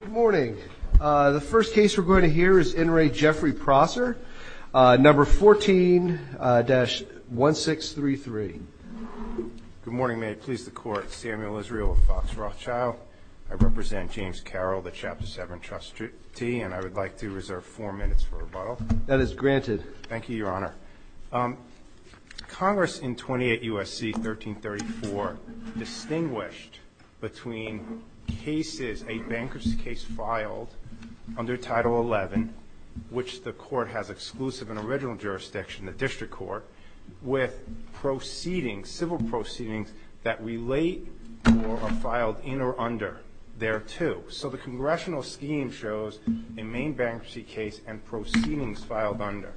Good morning. The first case we're going to hear is In Re Jeffrey Prosser, number 14-1633. Good morning. May it please the Court, Samuel Israel of Fox Rothschild. I represent James Carroll, the Chapter 7 trustee, and I would like to reserve four minutes for rebuttal. That is granted. Thank you, Your Honor. Congress in 28 U.S.C. 1334 distinguished between cases, a bankruptcy case filed under Title 11, which the Court has exclusive and original jurisdiction, the District Court, with proceedings, civil proceedings that relate or are filed in or under there too. So the congressional scheme shows a main bankruptcy case and proceedings filed under.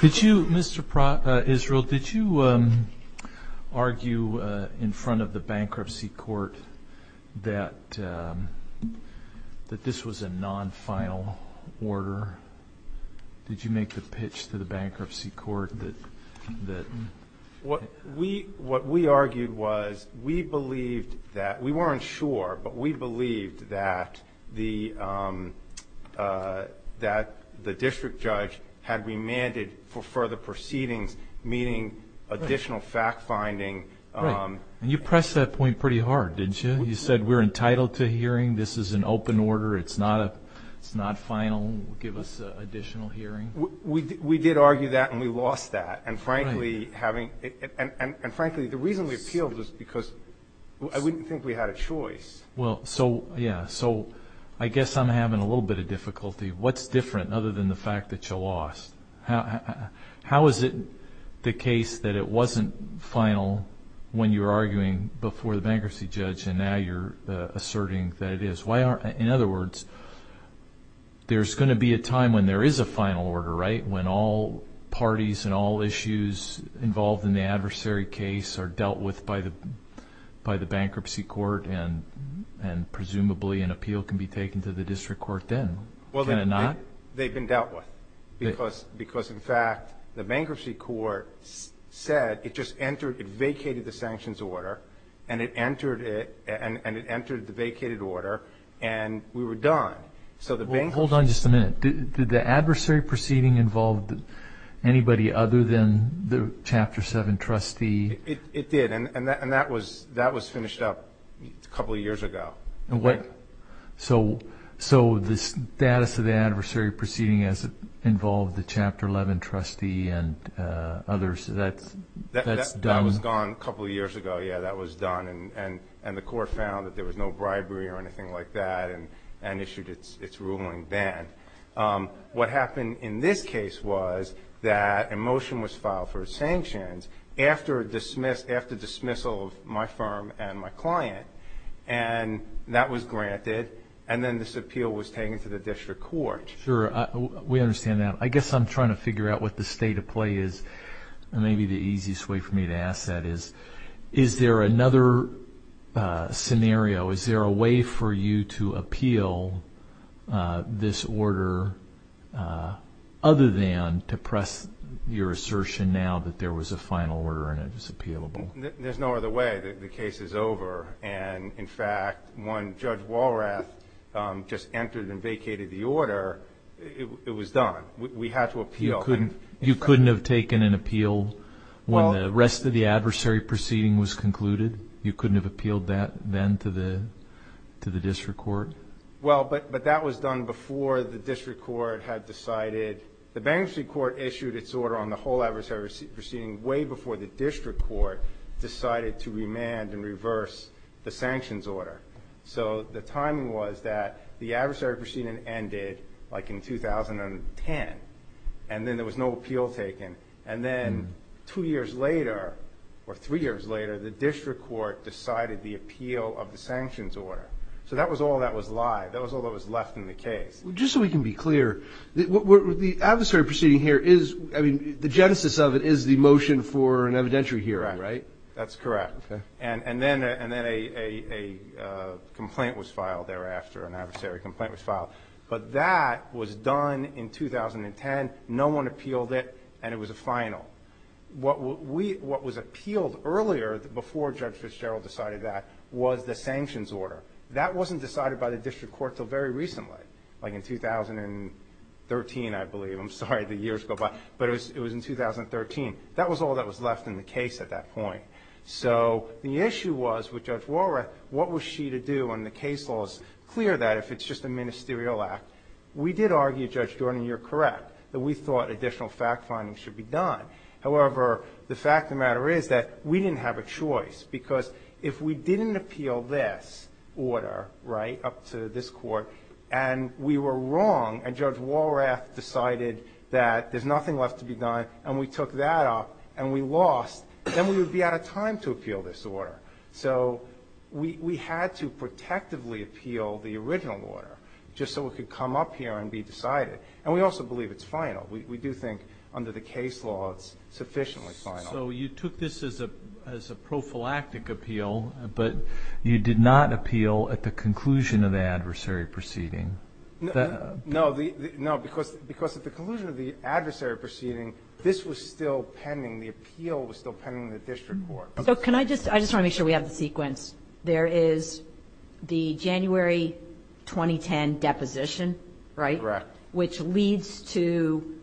Did you, Mr. Israel, did you argue in front of the bankruptcy court that this was a non-final order? Did you make the pitch to the bankruptcy court that? What we argued was we believed that, we weren't sure, but we believed that the district judge had remanded for further proceedings, meaning additional fact-finding. And you pressed that point pretty hard, didn't you? You said we're entitled to a hearing, this is an open order, it's not final, give us additional hearing. We did argue that and we lost that. And frankly, the reason we appealed was because I wouldn't think we had a choice. Well, so, yeah, so I guess I'm having a little bit of difficulty. What's different other than the fact that you lost? How is it the case that it wasn't final when you were arguing before the bankruptcy judge and now you're asserting that it is? Why aren't, in other words, there's going to be a time when there is a final order, right, when all parties and all issues involved in the adversary case are dealt with by the bankruptcy court and presumably an appeal can be taken to the district court then, can it not? Well, they've been dealt with because, in fact, the bankruptcy court said it just entered, it vacated the sanctions order and it entered the vacated order and we were done. Well, hold on just a minute. Did the adversary proceeding involve anybody other than the Chapter 7 trustee? It did and that was finished up a couple of years ago. So the status of the adversary proceeding as it involved the Chapter 11 trustee and others, that's done? That was gone a couple of years ago, yeah, that was done, and the court found that there was no bribery or anything like that and issued its ruling then. What happened in this case was that a motion was filed for sanctions after dismissal of my firm and my client and that was granted and then this appeal was taken to the district court. Sure, we understand that. I guess I'm trying to figure out what the state of play is, and maybe the easiest way for me to ask that is, is there another scenario, is there a way for you to appeal this order other than to press your assertion now that there was a final order and it was appealable? There's no other way. The case is over and, in fact, when Judge Walrath just entered and vacated the order, it was done. We had to appeal. You couldn't have taken an appeal when the rest of the adversary proceeding was concluded? You couldn't have appealed that then to the district court? Well, but that was done before the district court had decided. The bankruptcy court issued its order on the whole adversary proceeding way before the district court decided to remand and reverse the sanctions order. So the timing was that the adversary proceeding ended, like, in 2010, and then there was no appeal taken, and then two years later or three years later, the district court decided the appeal of the sanctions order. So that was all that was live. That was all that was left in the case. Just so we can be clear, the adversary proceeding here is, I mean, the genesis of it is the motion for an evidentiary hearing, right? That's correct. Okay. And then a complaint was filed thereafter, an adversary complaint was filed. But that was done in 2010. No one appealed it, and it was a final. What was appealed earlier before Judge Fitzgerald decided that was the sanctions order. That wasn't decided by the district court until very recently. Like in 2013, I believe. I'm sorry, the years go by. But it was in 2013. That was all that was left in the case at that point. So the issue was with Judge Walrath, what was she to do when the case law is clear that if it's just a ministerial act. We did argue, Judge Jordan, you're correct, that we thought additional fact-finding should be done. However, the fact of the matter is that we didn't have a choice because if we didn't appeal this order, right, up to this court, and we were wrong and Judge Walrath decided that there's nothing left to be done and we took that up and we lost, then we would be out of time to appeal this order. So we had to protectively appeal the original order just so it could come up here and be decided. And we also believe it's final. We do think under the case law it's sufficiently final. So you took this as a prophylactic appeal, but you did not appeal at the conclusion of the adversary proceeding. No, because at the conclusion of the adversary proceeding, this was still pending, the appeal was still pending in the district court. So can I just, I just want to make sure we have the sequence. There is the January 2010 deposition, right? Correct. Which leads to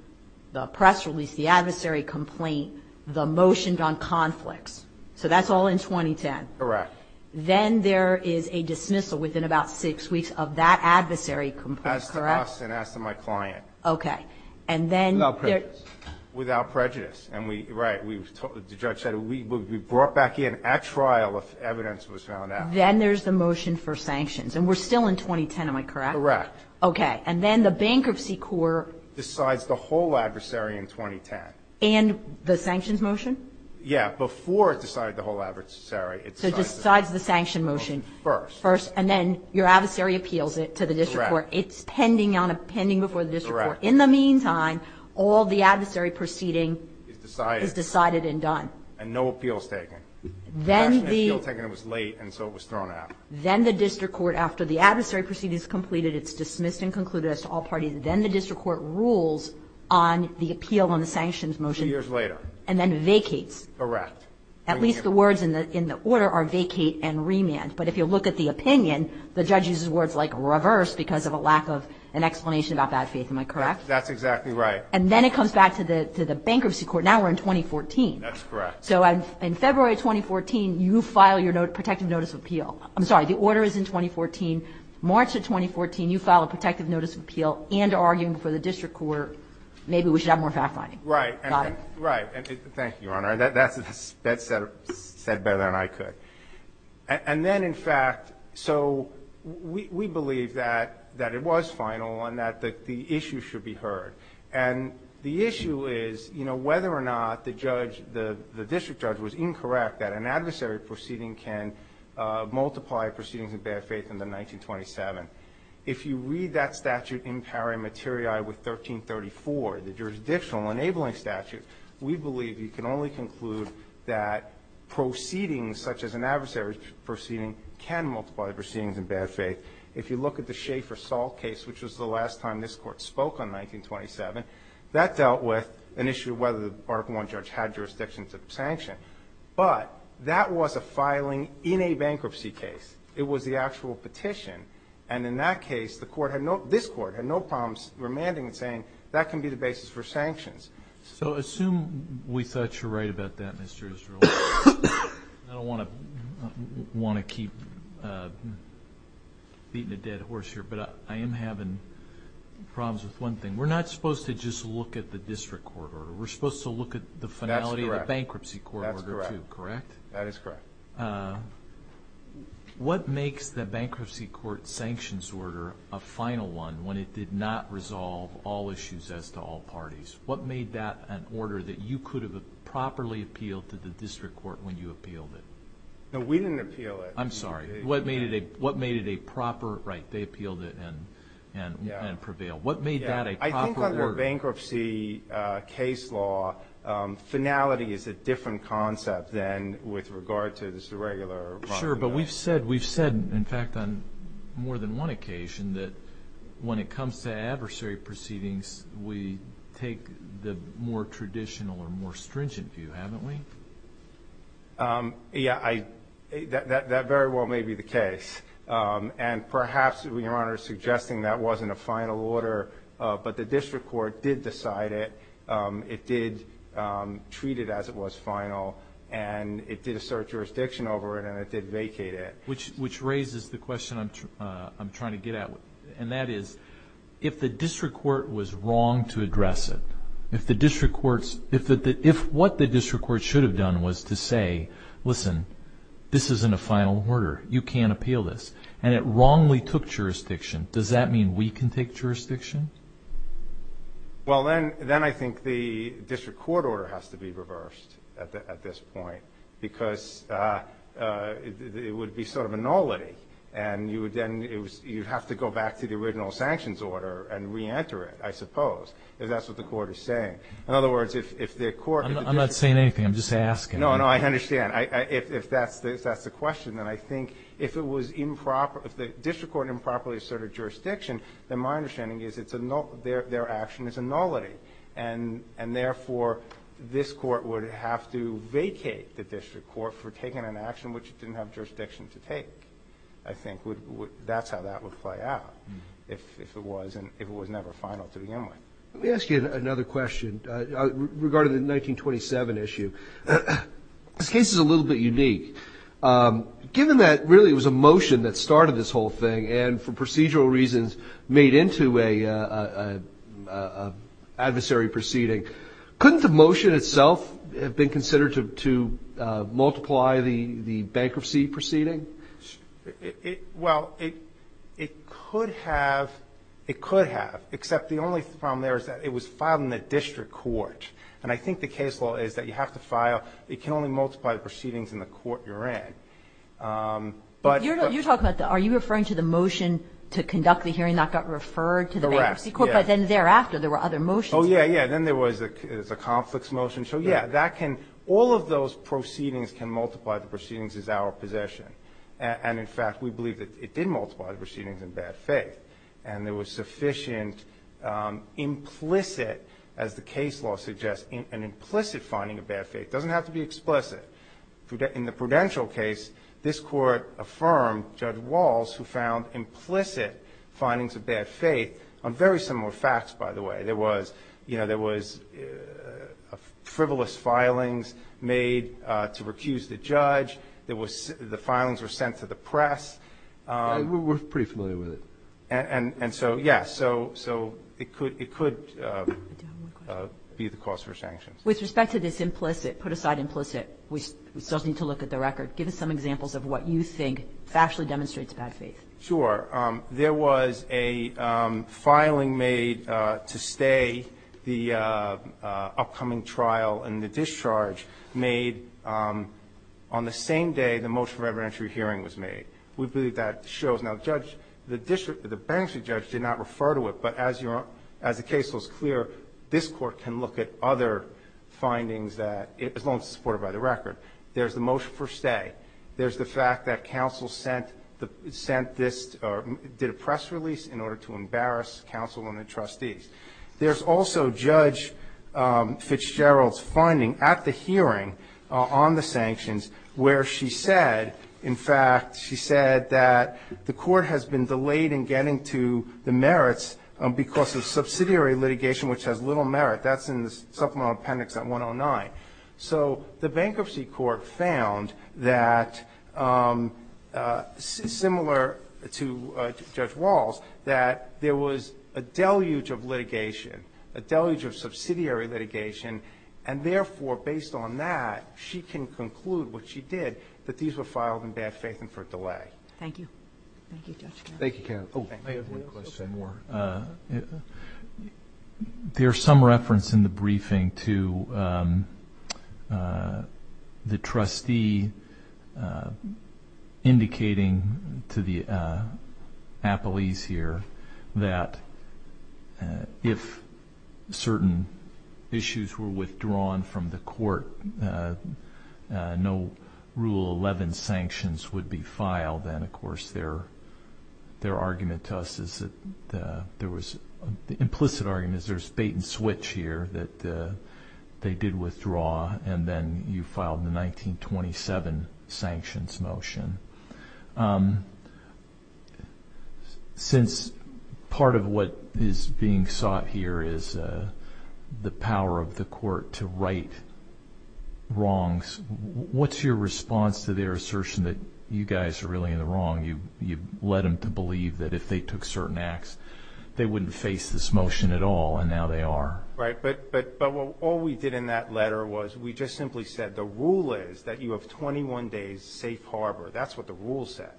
the press release, the adversary complaint, the motion on conflicts. So that's all in 2010. Correct. Then there is a dismissal within about six weeks of that adversary complaint, correct? As to us and as to my client. Okay. Without prejudice. Without prejudice. Right. The judge said we would be brought back in at trial if evidence was found out. Then there's the motion for sanctions. And we're still in 2010, am I correct? Correct. Okay. And then the bankruptcy court decides the whole adversary in 2010. And the sanctions motion? Yeah. Before it decided the whole adversary. So it decides the sanction motion. First. First. And then your adversary appeals it to the district court. Correct. It's pending before the district court. Correct. In the meantime, all the adversary proceeding is decided and done. And no appeal is taken. Then the. The last appeal taken was late and so it was thrown out. Then the district court, after the adversary proceeding is completed, it's dismissed and concluded as to all parties. Then the district court rules on the appeal on the sanctions motion. Two years later. And then vacates. Correct. At least the words in the order are vacate and remand. But if you look at the opinion, the judge uses words like reverse because of a lack of an explanation about bad faith, am I correct? That's exactly right. And then it comes back to the bankruptcy court. Now we're in 2014. That's correct. So in February of 2014, you file your protective notice of appeal. I'm sorry, the order is in 2014. March of 2014, you file a protective notice of appeal and are arguing before the district court, maybe we should have more fact-finding. Right. Right. Thank you, Your Honor. That's said better than I could. And then, in fact, so we believe that it was final and that the issue should be heard. And the issue is, you know, whether or not the judge, the district judge was incorrect that an adversary proceeding can multiply proceedings of bad faith in the 1927. If you read that statute in pari materiae with 1334, the jurisdictional enabling statute, we believe you can only conclude that proceedings such as an adversary proceeding can multiply proceedings in bad faith. If you look at the Schaefer-Salt case, which was the last time this Court spoke on 1927, that dealt with an issue of whether the bargain warrant judge had jurisdictions of sanction. But that was a filing in a bankruptcy case. It was the actual petition. And in that case, this Court had no problems remanding and saying, that can be the basis for sanctions. So assume we thought you're right about that, Mr. Israel. I don't want to keep beating a dead horse here. But I am having problems with one thing. We're not supposed to just look at the district court order. We're supposed to look at the finality of the bankruptcy court order, too. That's correct. Correct? That is correct. What makes the bankruptcy court sanctions order a final one when it did not resolve all issues as to all parties? What made that an order that you could have properly appealed to the district court when you appealed it? No, we didn't appeal it. I'm sorry. What made it a proper – right, they appealed it and prevailed. What made that a proper order? I think under bankruptcy case law, finality is a different concept than with regard to the regular – Sure, but we've said, in fact, on more than one occasion, that when it comes to adversary proceedings, we take the more traditional or more stringent view, haven't we? Yeah, that very well may be the case. And perhaps, Your Honor, suggesting that wasn't a final order, but the district court did decide it, it did treat it as it was final, and it did assert jurisdiction over it, and it did vacate it. Which raises the question I'm trying to get at, and that is if the district court was wrong to address it, if what the district court should have done was to say, listen, this isn't a final order, you can't appeal this, and it wrongly took jurisdiction, does that mean we can take jurisdiction? Well, then I think the district court order has to be reversed at this point because it would be sort of a nullity, and you would then have to go back to the original sanctions order and reenter it, I suppose, if that's what the court is saying. In other words, if the court – I'm not saying anything. I'm just asking. No, no, I understand. If that's the question, then I think if it was improper – if the district court improperly asserted jurisdiction, then my understanding is it's a – their action is a nullity. And therefore, this court would have to vacate the district court for taking an action which it didn't have jurisdiction to take, I think. That's how that would play out if it was never final to begin with. Let me ask you another question. Regarding the 1927 issue, this case is a little bit unique. Given that, really, it was a motion that started this whole thing and for procedural reasons made into an adversary proceeding, couldn't the motion itself have been considered to multiply the bankruptcy proceeding? Well, it could have. It could have, except the only problem there is that it was filed in the district court. And I think the case law is that you have to file – it can only multiply the proceedings in the court you're in. But – You're talking about the – are you referring to the motion to conduct the hearing that got referred to the bankruptcy court? Correct, yes. But then thereafter, there were other motions. Oh, yes, yes. Then there was a conflicts motion. So, yes, that can – all of those proceedings can multiply the proceedings as our position. And, in fact, we believe that it did multiply the proceedings in bad faith. And there was sufficient implicit, as the case law suggests, an implicit finding of bad faith. It doesn't have to be explicit. In the Prudential case, this Court affirmed Judge Walz, who found implicit findings of bad faith on very similar facts, by the way. There was – you know, there was frivolous filings made to recuse the judge. There was – the filings were sent to the press. We're pretty familiar with it. And so, yes, so it could be the cause for sanctions. With respect to this implicit, put aside implicit, we still need to look at the record. Give us some examples of what you think actually demonstrates bad faith. Sure. There was a filing made to stay the upcoming trial, and the discharge made on the same day the motion for evidentiary hearing was made. We believe that shows. Now, the judge – the district – the bankruptcy judge did not refer to it, but as the case was clear, this Court can look at other findings that – as long as it's supported by the record. There's the motion for stay. There's the fact that counsel sent this – or did a press release in order to embarrass counsel and the trustees. There's also Judge Fitzgerald's finding at the hearing on the sanctions where she said, in fact, she said that the court has been delayed in getting to the merits because of subsidiary litigation, which has little merit. That's in the supplemental appendix at 109. So the bankruptcy court found that, similar to Judge Walls, that there was a deluge of litigation, a deluge of subsidiary litigation, and therefore, based on that, she can conclude what she did, that these were filed in bad faith and for delay. Thank you. Thank you, Judge. Thank you, counsel. Oh, I have one question more. There's some reference in the briefing to the trustee indicating to the appellees here that if certain issues were withdrawn from the court, no Rule 11 sanctions would be filed. And, of course, their argument to us is that there was – the implicit argument is there's bait and switch here, that they did withdraw, and then you filed the 1927 sanctions motion. Since part of what is being sought here is the power of the court to right wrongs, what's your response to their assertion that you guys are really in the wrong? You've led them to believe that if they took certain acts, they wouldn't face this motion at all, and now they are. Right. But all we did in that letter was we just simply said the rule is that you have 21 days safe harbor. That's what the rule says.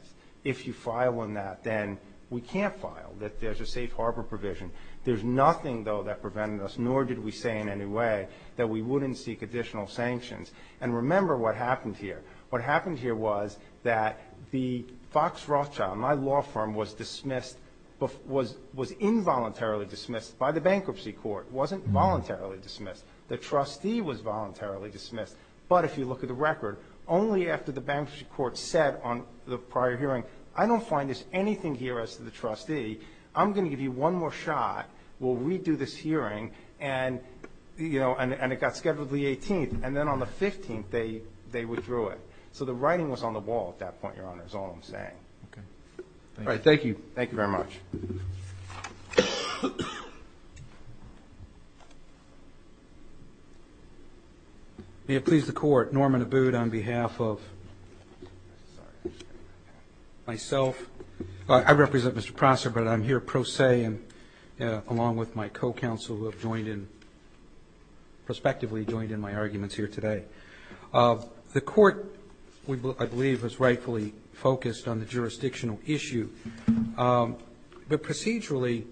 If you file on that, then we can't file, that there's a safe harbor provision. There's nothing, though, that prevented us, nor did we say in any way that we wouldn't seek additional sanctions. And remember what happened here. What happened here was that the Fox Rothschild, my law firm, was dismissed – was involuntarily dismissed by the bankruptcy court. It wasn't voluntarily dismissed. The trustee was voluntarily dismissed. But if you look at the record, only after the bankruptcy court said on the prior hearing, I don't find this anything here as to the trustee. I'm going to give you one more shot. We'll redo this hearing. And, you know, and it got scheduled the 18th. And then on the 15th, they withdrew it. So the writing was on the wall at that point, Your Honor, is all I'm saying. Okay. All right, thank you. Thank you very much. May it please the Court. Norman Abood on behalf of myself. I represent Mr. Prosser, but I'm here pro se and along with my co-counsel, who have joined in – prospectively joined in my arguments here today. The Court, I believe, has rightfully focused on the jurisdictional issue. But procedurally,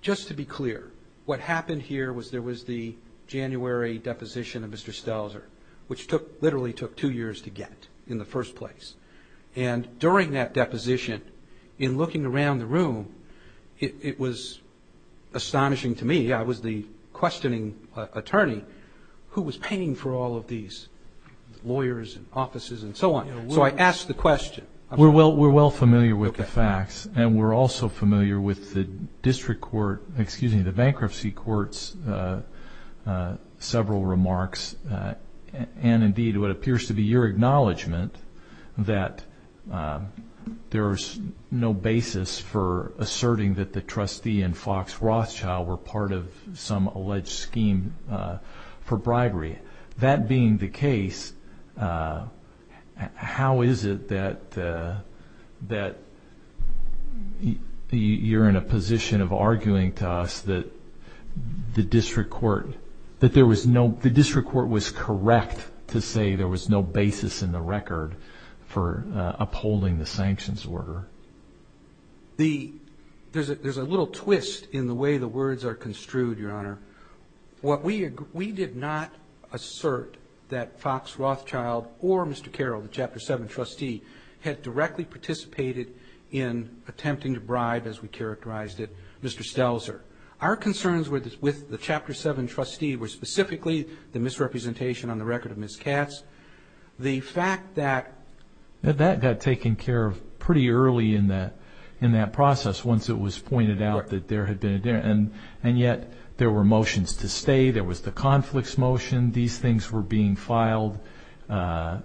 just to be clear, what happened here was there was the January deposition of Mr. Stelzer, which literally took two years to get in the first place. And during that deposition, in looking around the room, it was astonishing to me. I was the questioning attorney who was paying for all of these lawyers and offices and so on. So I asked the question. We're well familiar with the facts, and we're also familiar with the district court – excuse me, the bankruptcy court's several remarks, and indeed what appears to be your acknowledgment that there's no basis for asserting that the trustee and Fox Rothschild were part of some alleged scheme for bribery. That being the case, how is it that you're in a position of arguing to us that the district court was correct to say there was no basis in the record for upholding the sanctions order? There's a little twist in the way the words are construed, Your Honor. We did not assert that Fox Rothschild or Mr. Carroll, the Chapter 7 trustee, had directly participated in attempting to bribe, as we characterized it, Mr. Stelzer. Our concerns with the Chapter 7 trustee were specifically the misrepresentation on the record of Ms. Katz. The fact that – That got taken care of pretty early in that process, once it was pointed out that there had been – and yet there were motions to stay, there was the conflicts motion, these things were being filed in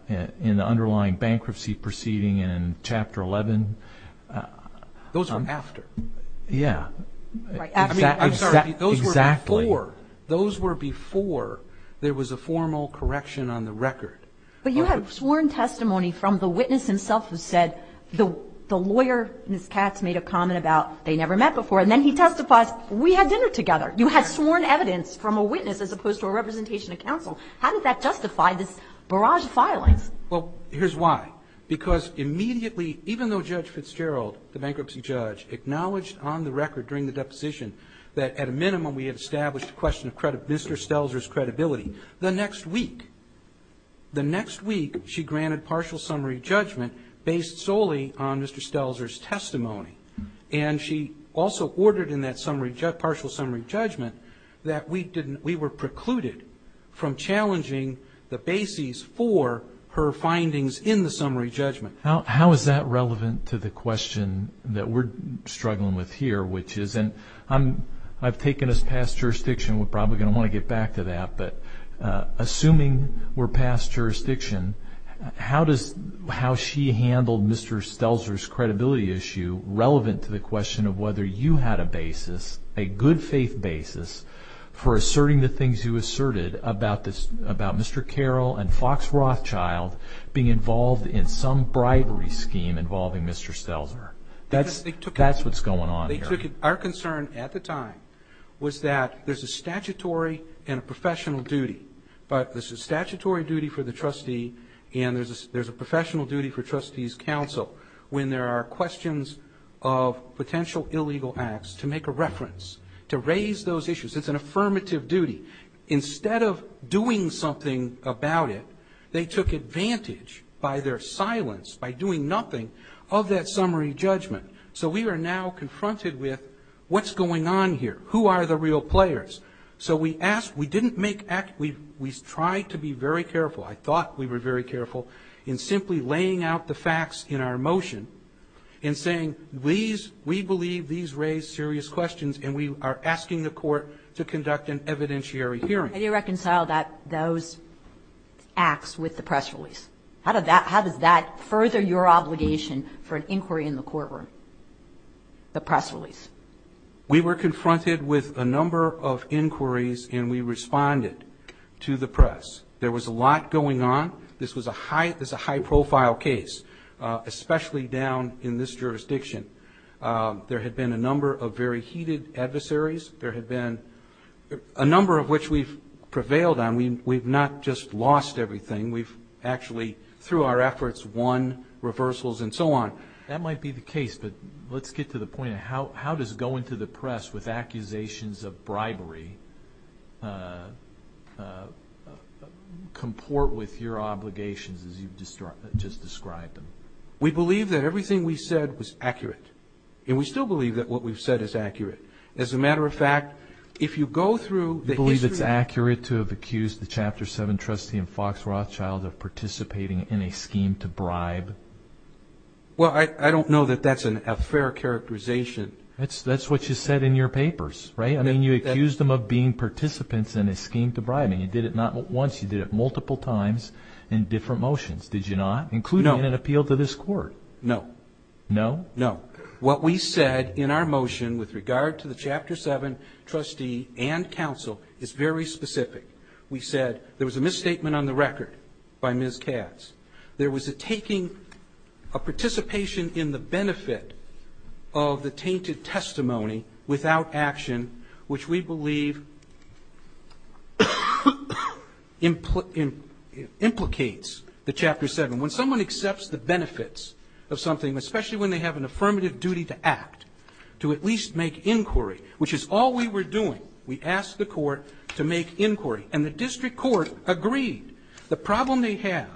the underlying bankruptcy proceeding in Chapter 11. Those were after. Yeah. I'm sorry, those were before. Exactly. Those were before there was a formal correction on the record. But you have sworn testimony from the witness himself who said the lawyer, Ms. Katz, made a comment about they never met before, and then he testifies, we had dinner together. You had sworn evidence from a witness as opposed to a representation of counsel. How did that justify this barrage of filings? Well, here's why. Because immediately, even though Judge Fitzgerald, the bankruptcy judge, acknowledged on the record during the deposition that at a minimum we had established a question of Mr. Stelzer's credibility, the next week, the next week she granted partial summary judgment based solely on Mr. Stelzer's testimony. And she also ordered in that partial summary judgment that we were precluded from challenging the bases for her findings in the summary judgment. How is that relevant to the question that we're struggling with here, which is – and I've taken us past jurisdiction, we're probably going to want to get back to that, but assuming we're past jurisdiction, how she handled Mr. Stelzer's credibility issue relevant to the question of whether you had a basis, a good faith basis, for asserting the things you asserted about Mr. Carroll and Fox Rothschild being involved in some bribery scheme involving Mr. Stelzer. That's what's going on here. Our concern at the time was that there's a statutory and a professional duty, but there's a statutory duty for the trustee and there's a professional duty for trustees' counsel when there are questions of potential illegal acts to make a reference, to raise those issues. It's an affirmative duty. Instead of doing something about it, they took advantage by their silence, by doing nothing, of that summary judgment. So we are now confronted with what's going on here? Who are the real players? So we asked – we didn't make – we tried to be very careful. I thought we were very careful in simply laying out the facts in our motion and saying these – we believe these raise serious questions, and we are asking the Court to conduct an evidentiary hearing. Kagan. How do you reconcile those acts with the press release? How does that further your obligation for an inquiry in the courtroom, the press release? We were confronted with a number of inquiries, and we responded to the press. There was a lot going on. This was a high-profile case, especially down in this jurisdiction. There had been a number of very heated adversaries. There had been a number of which we've prevailed on. We've not just lost everything. We've actually, through our efforts, won reversals and so on. That might be the case, but let's get to the point of how does going to the press with accusations of bribery comport with your obligations as you've just described them? We believe that everything we said was accurate, and we still believe that what we've said is accurate. As a matter of fact, if you go through the history – Well, I don't know that that's a fair characterization. That's what you said in your papers, right? I mean, you accused them of being participants in a scheme to bribe, and you did it not once. You did it multiple times in different motions, did you not, including in an appeal to this court? No. No? No. What we said in our motion with regard to the Chapter 7 trustee and counsel is very specific. We said there was a misstatement on the record by Ms. Katz. There was a participation in the benefit of the tainted testimony without action, which we believe implicates the Chapter 7. When someone accepts the benefits of something, especially when they have an affirmative duty to act, to at least make inquiry, which is all we were doing, we asked the court to make inquiry. And the district court agreed. The problem they have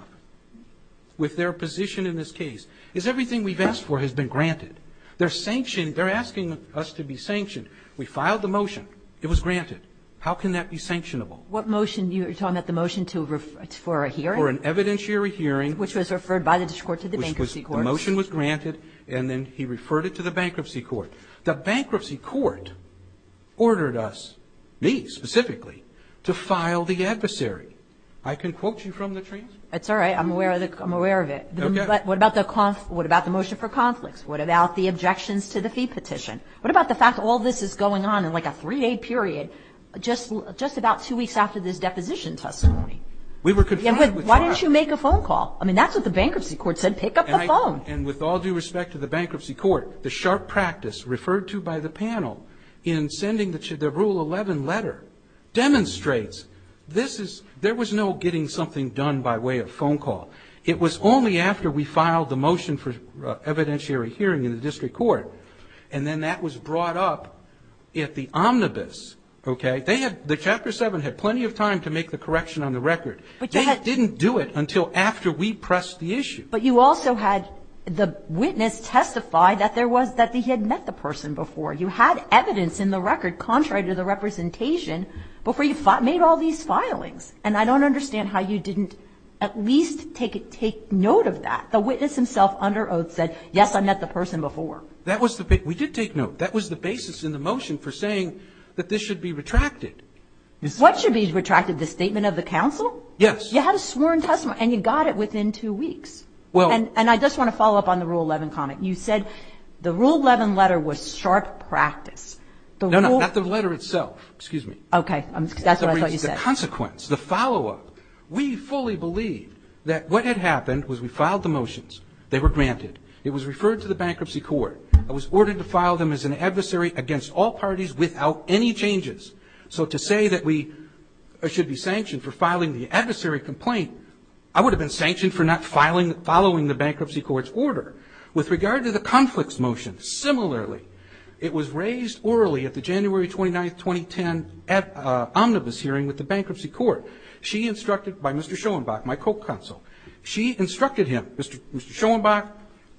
with their position in this case is everything we've asked for has been granted. They're sanctioned. They're asking us to be sanctioned. We filed the motion. It was granted. How can that be sanctionable? What motion? You're talking about the motion for a hearing? For an evidentiary hearing. Which was referred by the district court to the bankruptcy court. The motion was granted, and then he referred it to the bankruptcy court. The bankruptcy court ordered us, me specifically, to file the adversary. I can quote you from the transcript. That's all right. I'm aware of it. Okay. But what about the motion for conflicts? What about the objections to the fee petition? What about the fact that all this is going on in like a three-day period, just about two weeks after this deposition testimony? We were confronted with that. Why didn't you make a phone call? I mean, that's what the bankruptcy court said. Pick up the phone. And with all due respect to the bankruptcy court, the sharp practice referred to by the panel in sending the Rule 11 letter demonstrates this is ñ there was no getting something done by way of phone call. It was only after we filed the motion for evidentiary hearing in the district court, and then that was brought up at the omnibus. Okay? They had ñ the Chapter 7 had plenty of time to make the correction on the record. They didn't do it until after we pressed the issue. But you also had the witness testify that there was ñ that he had met the person before. You had evidence in the record contrary to the representation before you made all these filings. And I don't understand how you didn't at least take note of that. The witness himself under oath said, yes, I met the person before. That was the ñ we did take note. That was the basis in the motion for saying that this should be retracted. What should be retracted? The statement of the counsel? Yes. You had a sworn testimony. And you got it within two weeks. Well ñ And I just want to follow up on the Rule 11 comment. You said the Rule 11 letter was sharp practice. No, no. Not the letter itself. Excuse me. Okay. That's what I thought you said. The consequence, the follow-up. We fully believe that what had happened was we filed the motions. They were granted. It was referred to the bankruptcy court. It was ordered to file them as an adversary against all parties without any changes. So to say that we should be sanctioned for filing the adversary complaint, I would have been sanctioned for not following the bankruptcy court's order. With regard to the conflicts motion, similarly, it was raised orally at the January 29, 2010, omnibus hearing with the bankruptcy court. She instructed ñ by Mr. Schoenbach, my co-counsel. She instructed him, Mr. Schoenbach,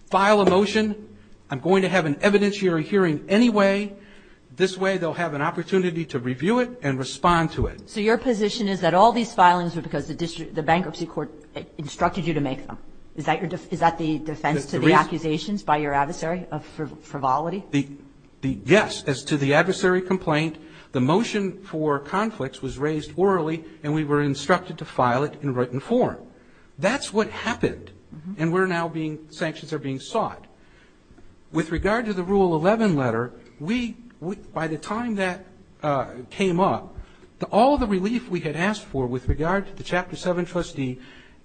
file a motion. I'm going to have an evidentiary hearing anyway. This way they'll have an opportunity to review it and respond to it. So your position is that all these filings were because the bankruptcy court instructed you to make them? Is that the defense to the accusations by your adversary of frivolity? Yes. As to the adversary complaint, the motion for conflicts was raised orally, and we were instructed to file it in written form. That's what happened. And we're now being ñ sanctions are being sought. With regard to the Rule 11 letter, we ñ by the time that came up, all the relief we had asked for with regard to the Chapter 7 trustee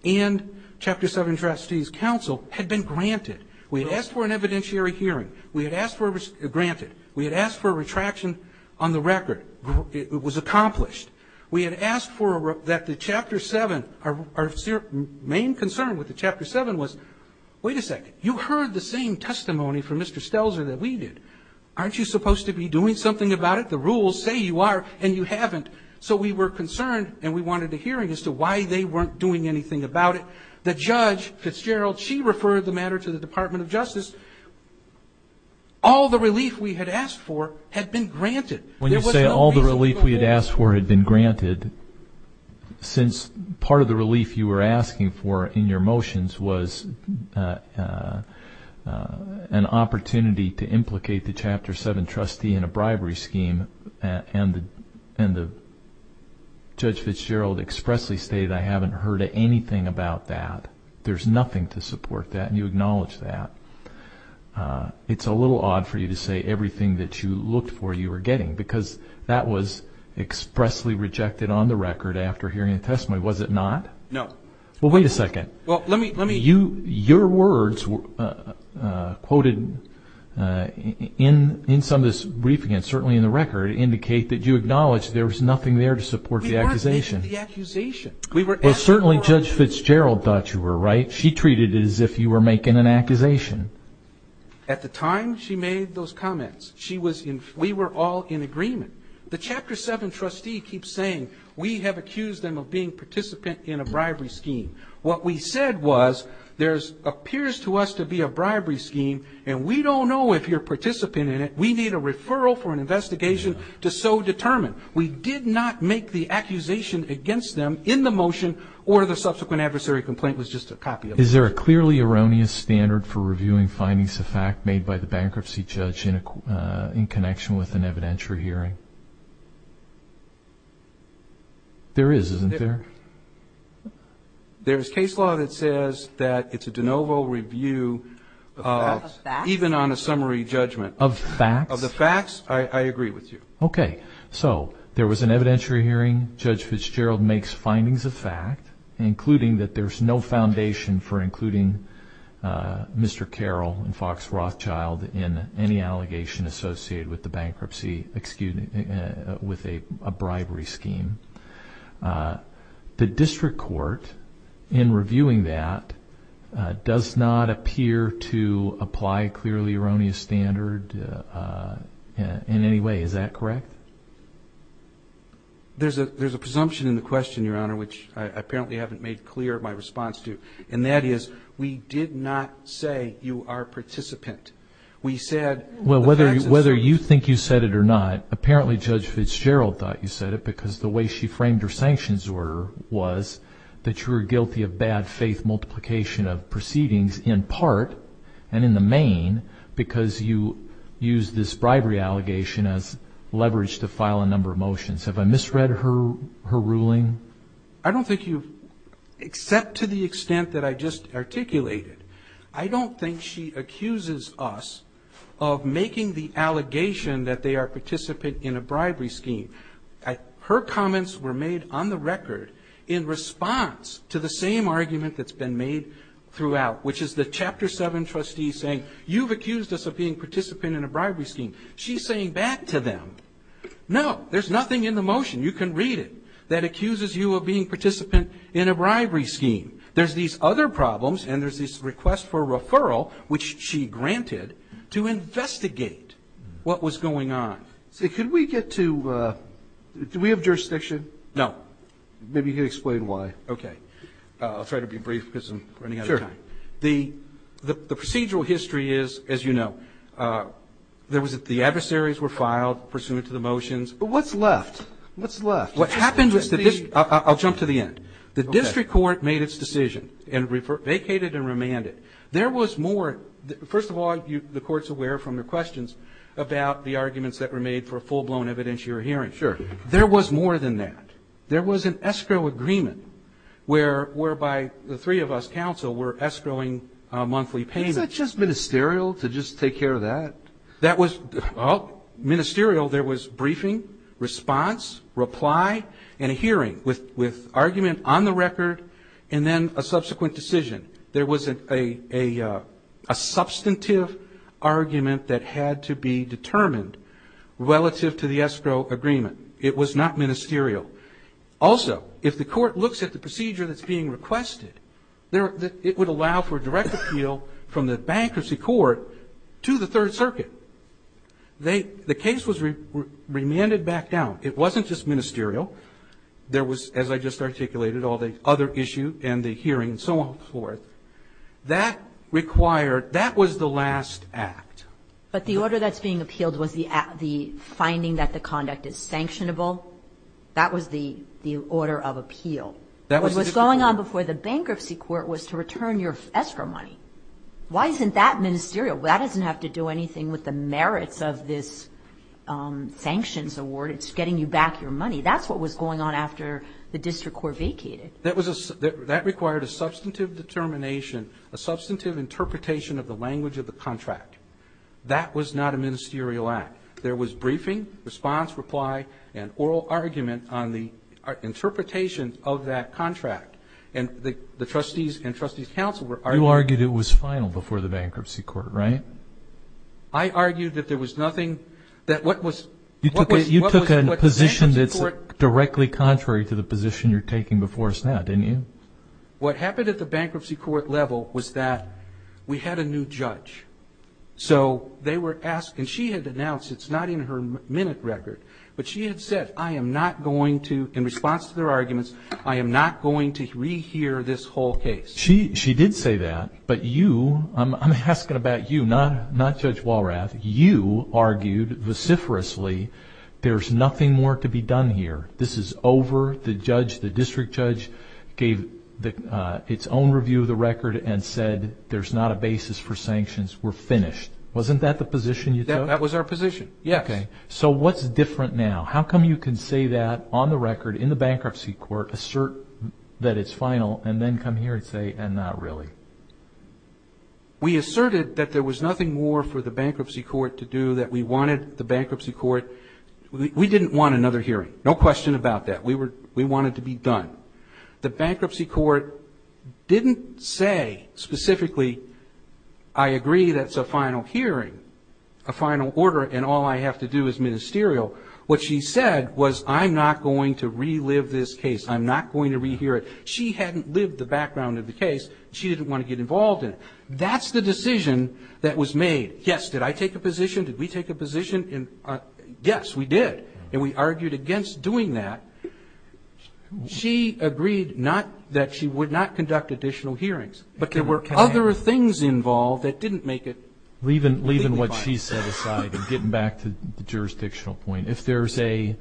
and Chapter 7 trustee's counsel had been granted. We had asked for an evidentiary hearing. We had asked for a ñ granted. We had asked for a retraction on the record. It was accomplished. We had asked for a ñ that the Chapter 7 ñ our main concern with the Chapter 7 was, wait a second, you heard the same testimony from Mr. Stelzer that we did. Aren't you supposed to be doing something about it? The rules say you are, and you haven't. So we were concerned, and we wanted a hearing as to why they weren't doing anything about it. The judge, Fitzgerald, she referred the matter to the Department of Justice. All the relief we had asked for had been granted. When you say all the relief we had asked for had been granted, since part of the relief you were asking for in your motions was an opportunity to implicate the Chapter 7 trustee in a bribery scheme, and Judge Fitzgerald expressly stated, I haven't heard anything about that. There's nothing to support that, and you acknowledge that. It's a little odd for you to say everything that you looked for you were getting, because that was expressly rejected on the record after hearing the testimony, was it not? No. Well, wait a second. Well, let me ñ Your words quoted in some of this briefing, and certainly in the record, indicate that you acknowledge there was nothing there to support the accusation. We weren't making the accusation. Well, certainly Judge Fitzgerald thought you were, right? She treated it as if you were making an accusation. At the time she made those comments, we were all in agreement. The Chapter 7 trustee keeps saying we have accused them of being participant in a bribery scheme. What we said was there appears to us to be a bribery scheme, and we don't know if you're a participant in it. We need a referral for an investigation to so determine. We did not make the accusation against them in the motion, or the subsequent adversary complaint was just a copy of it. Is there a clearly erroneous standard for reviewing findings of fact made by the bankruptcy judge in connection with an evidentiary hearing? There is, isn't there? There is case law that says that it's a de novo review, even on a summary judgment. Of facts? Of the facts, I agree with you. Okay. So there was an evidentiary hearing, Judge Fitzgerald makes findings of fact, including that there's no foundation for including Mr. Carroll and Fox Rothschild in any allegation associated with the bankruptcy, excuse me, with a bribery scheme. The district court, in reviewing that, does not appear to apply a clearly erroneous standard in any way. Is that correct? There's a presumption in the question, Your Honor, which I apparently haven't made clear my response to, and that is we did not say you are a participant. We said the facts as such. Well, whether you think you said it or not, apparently Judge Fitzgerald thought you said it because the way she framed her sanctions order was that you were guilty of bad faith multiplication of proceedings in part, and in the main, because you used this bribery allegation as leverage to file a number of motions. Have I misread her ruling? I don't think you've, except to the extent that I just articulated, I don't think she accuses us of making the allegation that they are a participant in a bribery scheme. Her comments were made on the record in response to the same argument that's been made throughout, which is the Chapter 7 trustee saying you've accused us of being participant in a bribery scheme. She's saying back to them, no, there's nothing in the motion, you can read it, that accuses you of being participant in a bribery scheme. There's these other problems, and there's this request for referral, which she granted to investigate what was going on. So could we get to, do we have jurisdiction? No. Maybe you can explain why. Okay. I'll try to be brief because I'm running out of time. Sure. The procedural history is, as you know, there was, the adversaries were filed pursuant to the motions. What's left? What's left? What happened was, I'll jump to the end. The district court made its decision and vacated and remanded. There was more, first of all, the Court's aware from the questions about the arguments that were made for a full-blown evidentiary hearing. Sure. There was more than that. There was an escrow agreement whereby the three of us, counsel, were escrowing monthly payments. Is that just ministerial to just take care of that? That was, well, ministerial, there was briefing, response, reply, and a hearing with argument on the record, and then a subsequent decision. There was a substantive argument that had to be determined relative to the escrow agreement. It was not ministerial. Also, if the Court looks at the procedure that's being requested, it would allow for direct appeal from the Bankruptcy Court to the Third Circuit. The case was remanded back down. It wasn't just ministerial. There was, as I just articulated, all the other issue and the hearing and so on and so forth. That required, that was the last act. But the order that's being appealed was the finding that the conduct is sanctionable. That was the order of appeal. What was going on before the Bankruptcy Court was to return your escrow money. Why isn't that ministerial? That doesn't have to do anything with the merits of this sanctions award. It's getting you back your money. That's what was going on after the district court vacated. That required a substantive determination, a substantive interpretation of the language of the contract. That was not a ministerial act. There was briefing, response, reply, and oral argument on the interpretation of that contract. And the trustees and trustees' counsel were arguing. You argued it was final before the Bankruptcy Court, right? I argued that there was nothing, that what was... You said a position that's directly contrary to the position you're taking before us now, didn't you? What happened at the Bankruptcy Court level was that we had a new judge. So they were asked, and she had announced, it's not in her minute record, but she had said, I am not going to, in response to their arguments, I am not going to rehear this whole case. She did say that, but you, I'm asking about you, not Judge Walrath, you argued vociferously there's nothing more to be done here. This is over. The judge, the district judge, gave its own review of the record and said there's not a basis for sanctions. We're finished. Wasn't that the position you took? That was our position, yes. So what's different now? How come you can say that on the record in the Bankruptcy Court, assert that it's final, and then come here and say, and not really? We asserted that there was nothing more for the Bankruptcy Court to do, that we wanted the Bankruptcy Court, we didn't want another hearing. No question about that. We wanted to be done. The Bankruptcy Court didn't say specifically, I agree that's a final hearing, a final order, and all I have to do is ministerial. What she said was, I'm not going to relive this case. I'm not going to rehear it. She hadn't lived the background of the case. She didn't want to get involved in it. That's the decision that was made. Yes, did I take a position? Did we take a position? Yes, we did, and we argued against doing that. She agreed that she would not conduct additional hearings, but there were other things involved that didn't make it legally binding. Leaving what she set aside and getting back to the jurisdictional point, if there's a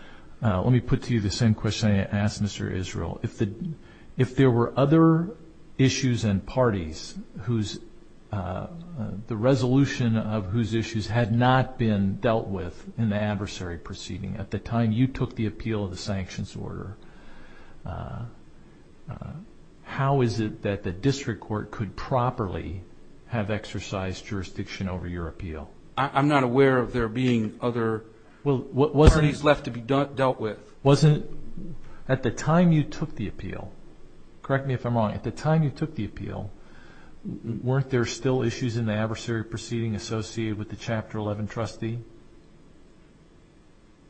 – let me put to you the same question I asked Mr. Israel. If there were other issues and parties whose – the resolution of whose issues had not been dealt with in the adversary proceeding at the time you took the appeal of the sanctions order, how is it that the district court could properly have exercised jurisdiction over your appeal? I'm not aware of there being other parties left to be dealt with. Wasn't – at the time you took the appeal, correct me if I'm wrong, at the time you took the appeal, weren't there still issues in the adversary proceeding associated with the Chapter 11 trustee?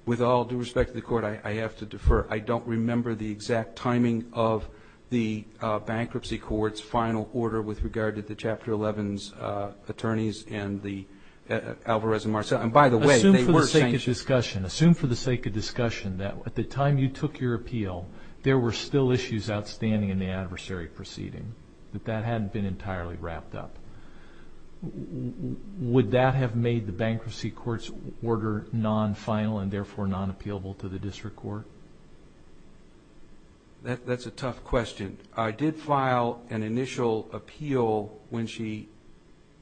With all due respect to the court, I have to defer. I don't remember the exact timing of the bankruptcy court's final order with regard to the Chapter 11's attorneys and the – Alvarez and Marcellin. And by the way, they were sanctioned. For the sake of discussion, assume for the sake of discussion that at the time you took your appeal, there were still issues outstanding in the adversary proceeding, that that hadn't been entirely wrapped up. Would that have made the bankruptcy court's order non-final and therefore non-appealable to the district court? That's a tough question. I did file an initial appeal when she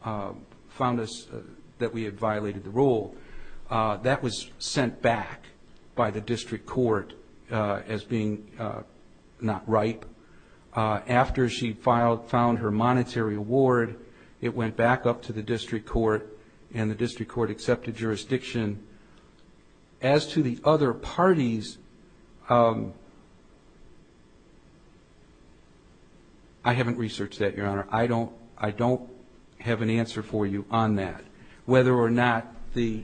found us that we had violated the rule. That was sent back by the district court as being not ripe. After she found her monetary award, it went back up to the district court and the district court accepted jurisdiction. As to the other parties, I haven't researched that, Your Honor. I don't have an answer for you on that. Whether or not they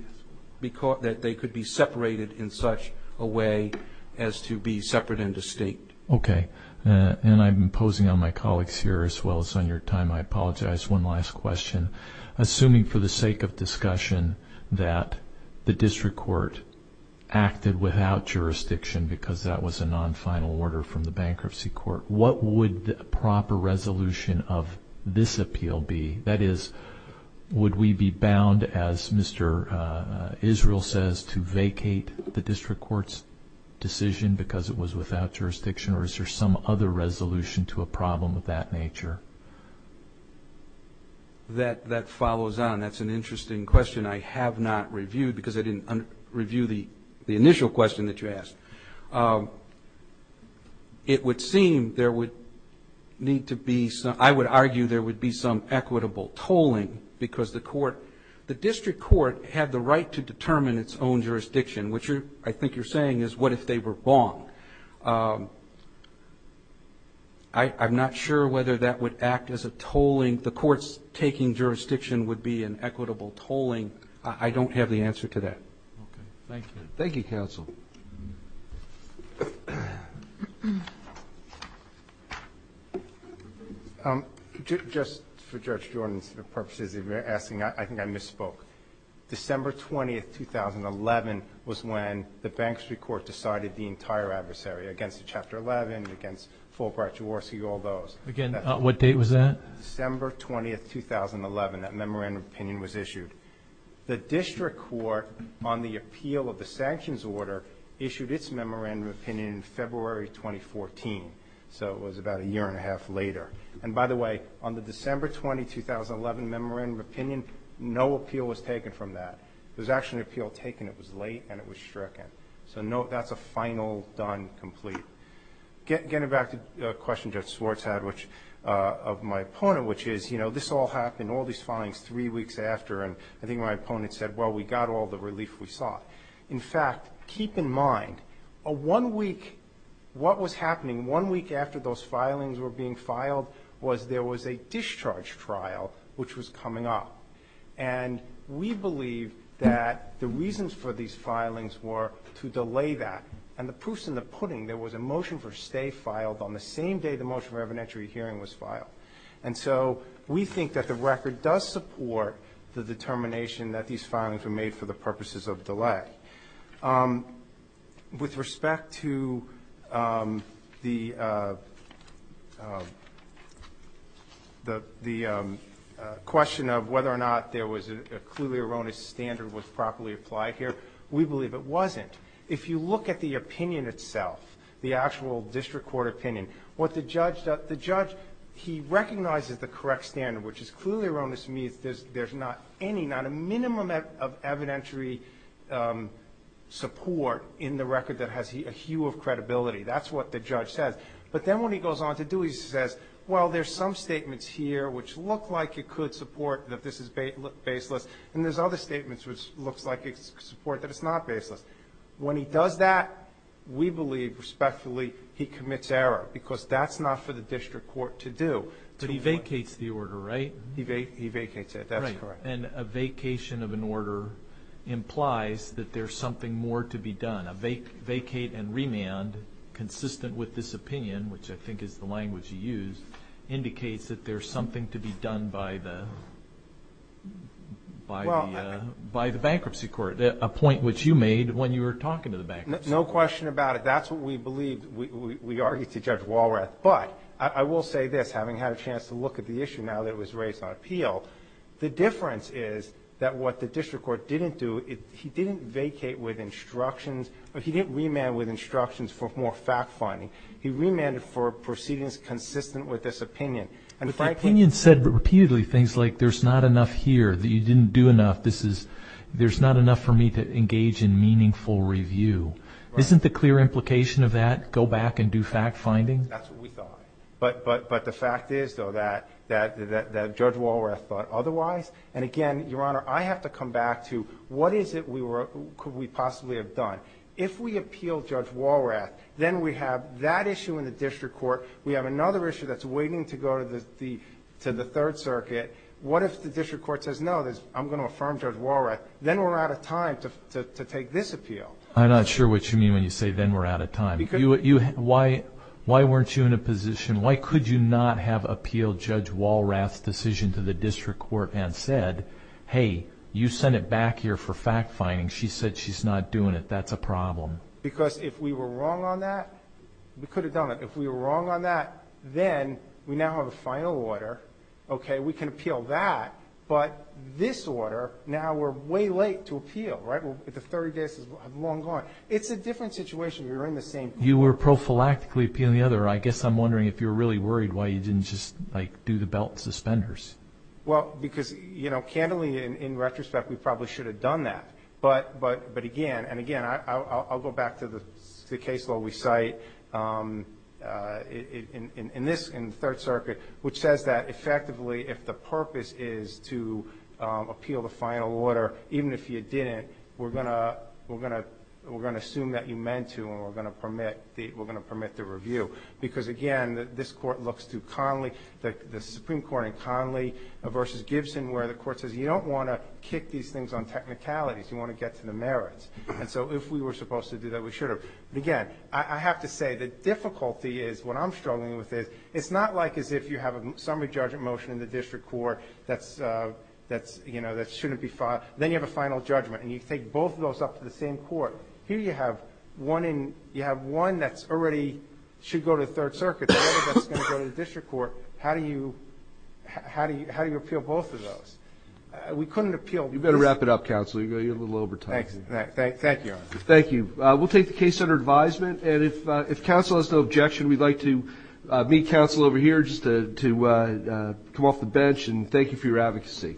could be separated in such a way as to be separate and distinct. Okay. And I'm imposing on my colleagues here as well as on your time, I apologize. One last question. Assuming for the sake of discussion that the district court acted without jurisdiction because that was a non-final order from the bankruptcy court, what would the proper resolution of this appeal be? That is, would we be bound, as Mr. Israel says, to vacate the district court's decision because it was without jurisdiction or is there some other resolution to a problem of that nature? That follows on. That's an interesting question I have not reviewed because I didn't review the initial question that you asked. It would seem there would need to be some, I would argue there would be some equitable tolling because the district court had the right to determine its own jurisdiction, which I think you're saying is what if they were wrong. I'm not sure whether that would act as a tolling. The court's taking jurisdiction would be an equitable tolling. I don't have the answer to that. Okay. Thank you. Thank you, counsel. Just for Judge Jordan's purposes of asking, I think I misspoke. December 20, 2011 was when the bankruptcy court decided the entire adversary against Chapter 11, against Fulbright, Jaworski, all those. Again, what date was that? December 20, 2011. That memorandum of opinion was issued. The district court, on the appeal of the sanctions order, issued its memorandum of opinion in February 2014. So it was about a year and a half later. And by the way, on the December 20, 2011 memorandum of opinion, no appeal was taken from that. There was actually an appeal taken. It was late and it was stricken. So that's a final, done, complete. Getting back to a question Judge Swartz had of my opponent, which is, you know, this all happened, all these filings three weeks after, and I think my opponent said, well, we got all the relief we sought. In fact, keep in mind, a one-week, what was happening one week after those filings were being filed was there was a discharge trial which was coming up. And we believe that the reasons for these filings were to delay that. And the proof's in the pudding. There was a motion for stay filed on the same day the motion for evidentiary hearing was filed. And so we think that the record does support the determination that these filings were made for the purposes of delay. With respect to the question of whether or not there was a clearly erroneous standard was properly applied here, we believe it wasn't. If you look at the opinion itself, the actual district court opinion, what the judge does, the judge, he recognizes the correct standard, which is clearly erroneous to me. There's not any, not a minimum of evidentiary support in the record that has a hue of credibility. That's what the judge says. But then when he goes on to do, he says, well, there's some statements here which look like it could support that this is baseless, and there's other statements which looks like it's support that it's not baseless. When he does that, we believe respectfully he commits error. Because that's not for the district court to do. But he vacates the order, right? He vacates it. That's correct. And a vacation of an order implies that there's something more to be done. A vacate and remand consistent with this opinion, which I think is the language he used, indicates that there's something to be done by the bankruptcy court, a point which you made when you were talking to the bankruptcy court. No question about it. That's what we believe. We argue to Judge Walrath. But I will say this, having had a chance to look at the issue, now that it was raised on appeal, the difference is that what the district court didn't do, he didn't vacate with instructions, he didn't remand with instructions for more fact-finding. He remanded for proceedings consistent with this opinion. But the opinion said repeatedly things like there's not enough here, you didn't do enough, there's not enough for me to engage in meaningful review. Isn't the clear implication of that go back and do fact-finding? That's what we thought. But the fact is, though, that Judge Walrath thought otherwise. And, again, Your Honor, I have to come back to what is it we were or could we possibly have done. If we appeal Judge Walrath, then we have that issue in the district court, we have another issue that's waiting to go to the Third Circuit. What if the district court says, no, I'm going to affirm Judge Walrath, then we're out of time to take this appeal. I'm not sure what you mean when you say, then we're out of time. Why weren't you in a position, why could you not have appealed Judge Walrath's decision to the district court and said, hey, you sent it back here for fact-finding. She said she's not doing it. That's a problem. Because if we were wrong on that, we could have done it. If we were wrong on that, then we now have a final order. We can appeal that. But this order, now we're way late to appeal. The 30 days is long gone. It's a different situation. You're in the same place. You were prophylactically appealing the other. I guess I'm wondering if you were really worried why you didn't just do the belt and suspenders. Well, because candidly, in retrospect, we probably should have done that. But, again, and, again, I'll go back to the case law we cite in the Third Circuit, which says that effectively if the purpose is to appeal the final order, even if you didn't, we're going to assume that you meant to and we're going to permit the review. Because, again, this Court looks to Conley, the Supreme Court in Conley versus Gibson, where the Court says you don't want to kick these things on technicalities. You want to get to the merits. And so if we were supposed to do that, we should have. But, again, I have to say the difficulty is, what I'm struggling with is, it's not like as if you have a summary judgment motion in the district court that shouldn't be filed. Then you have a final judgment and you take both of those up to the same court. Here you have one that already should go to the Third Circuit, the other that's going to go to the district court. How do you appeal both of those? We couldn't appeal both. You better wrap it up, counsel. You're a little over time. Thank you. Thank you. We'll take the case under advisement. And if counsel has no objection, we'd like to meet counsel over here just to come off the bench. And thank you for your advocacy.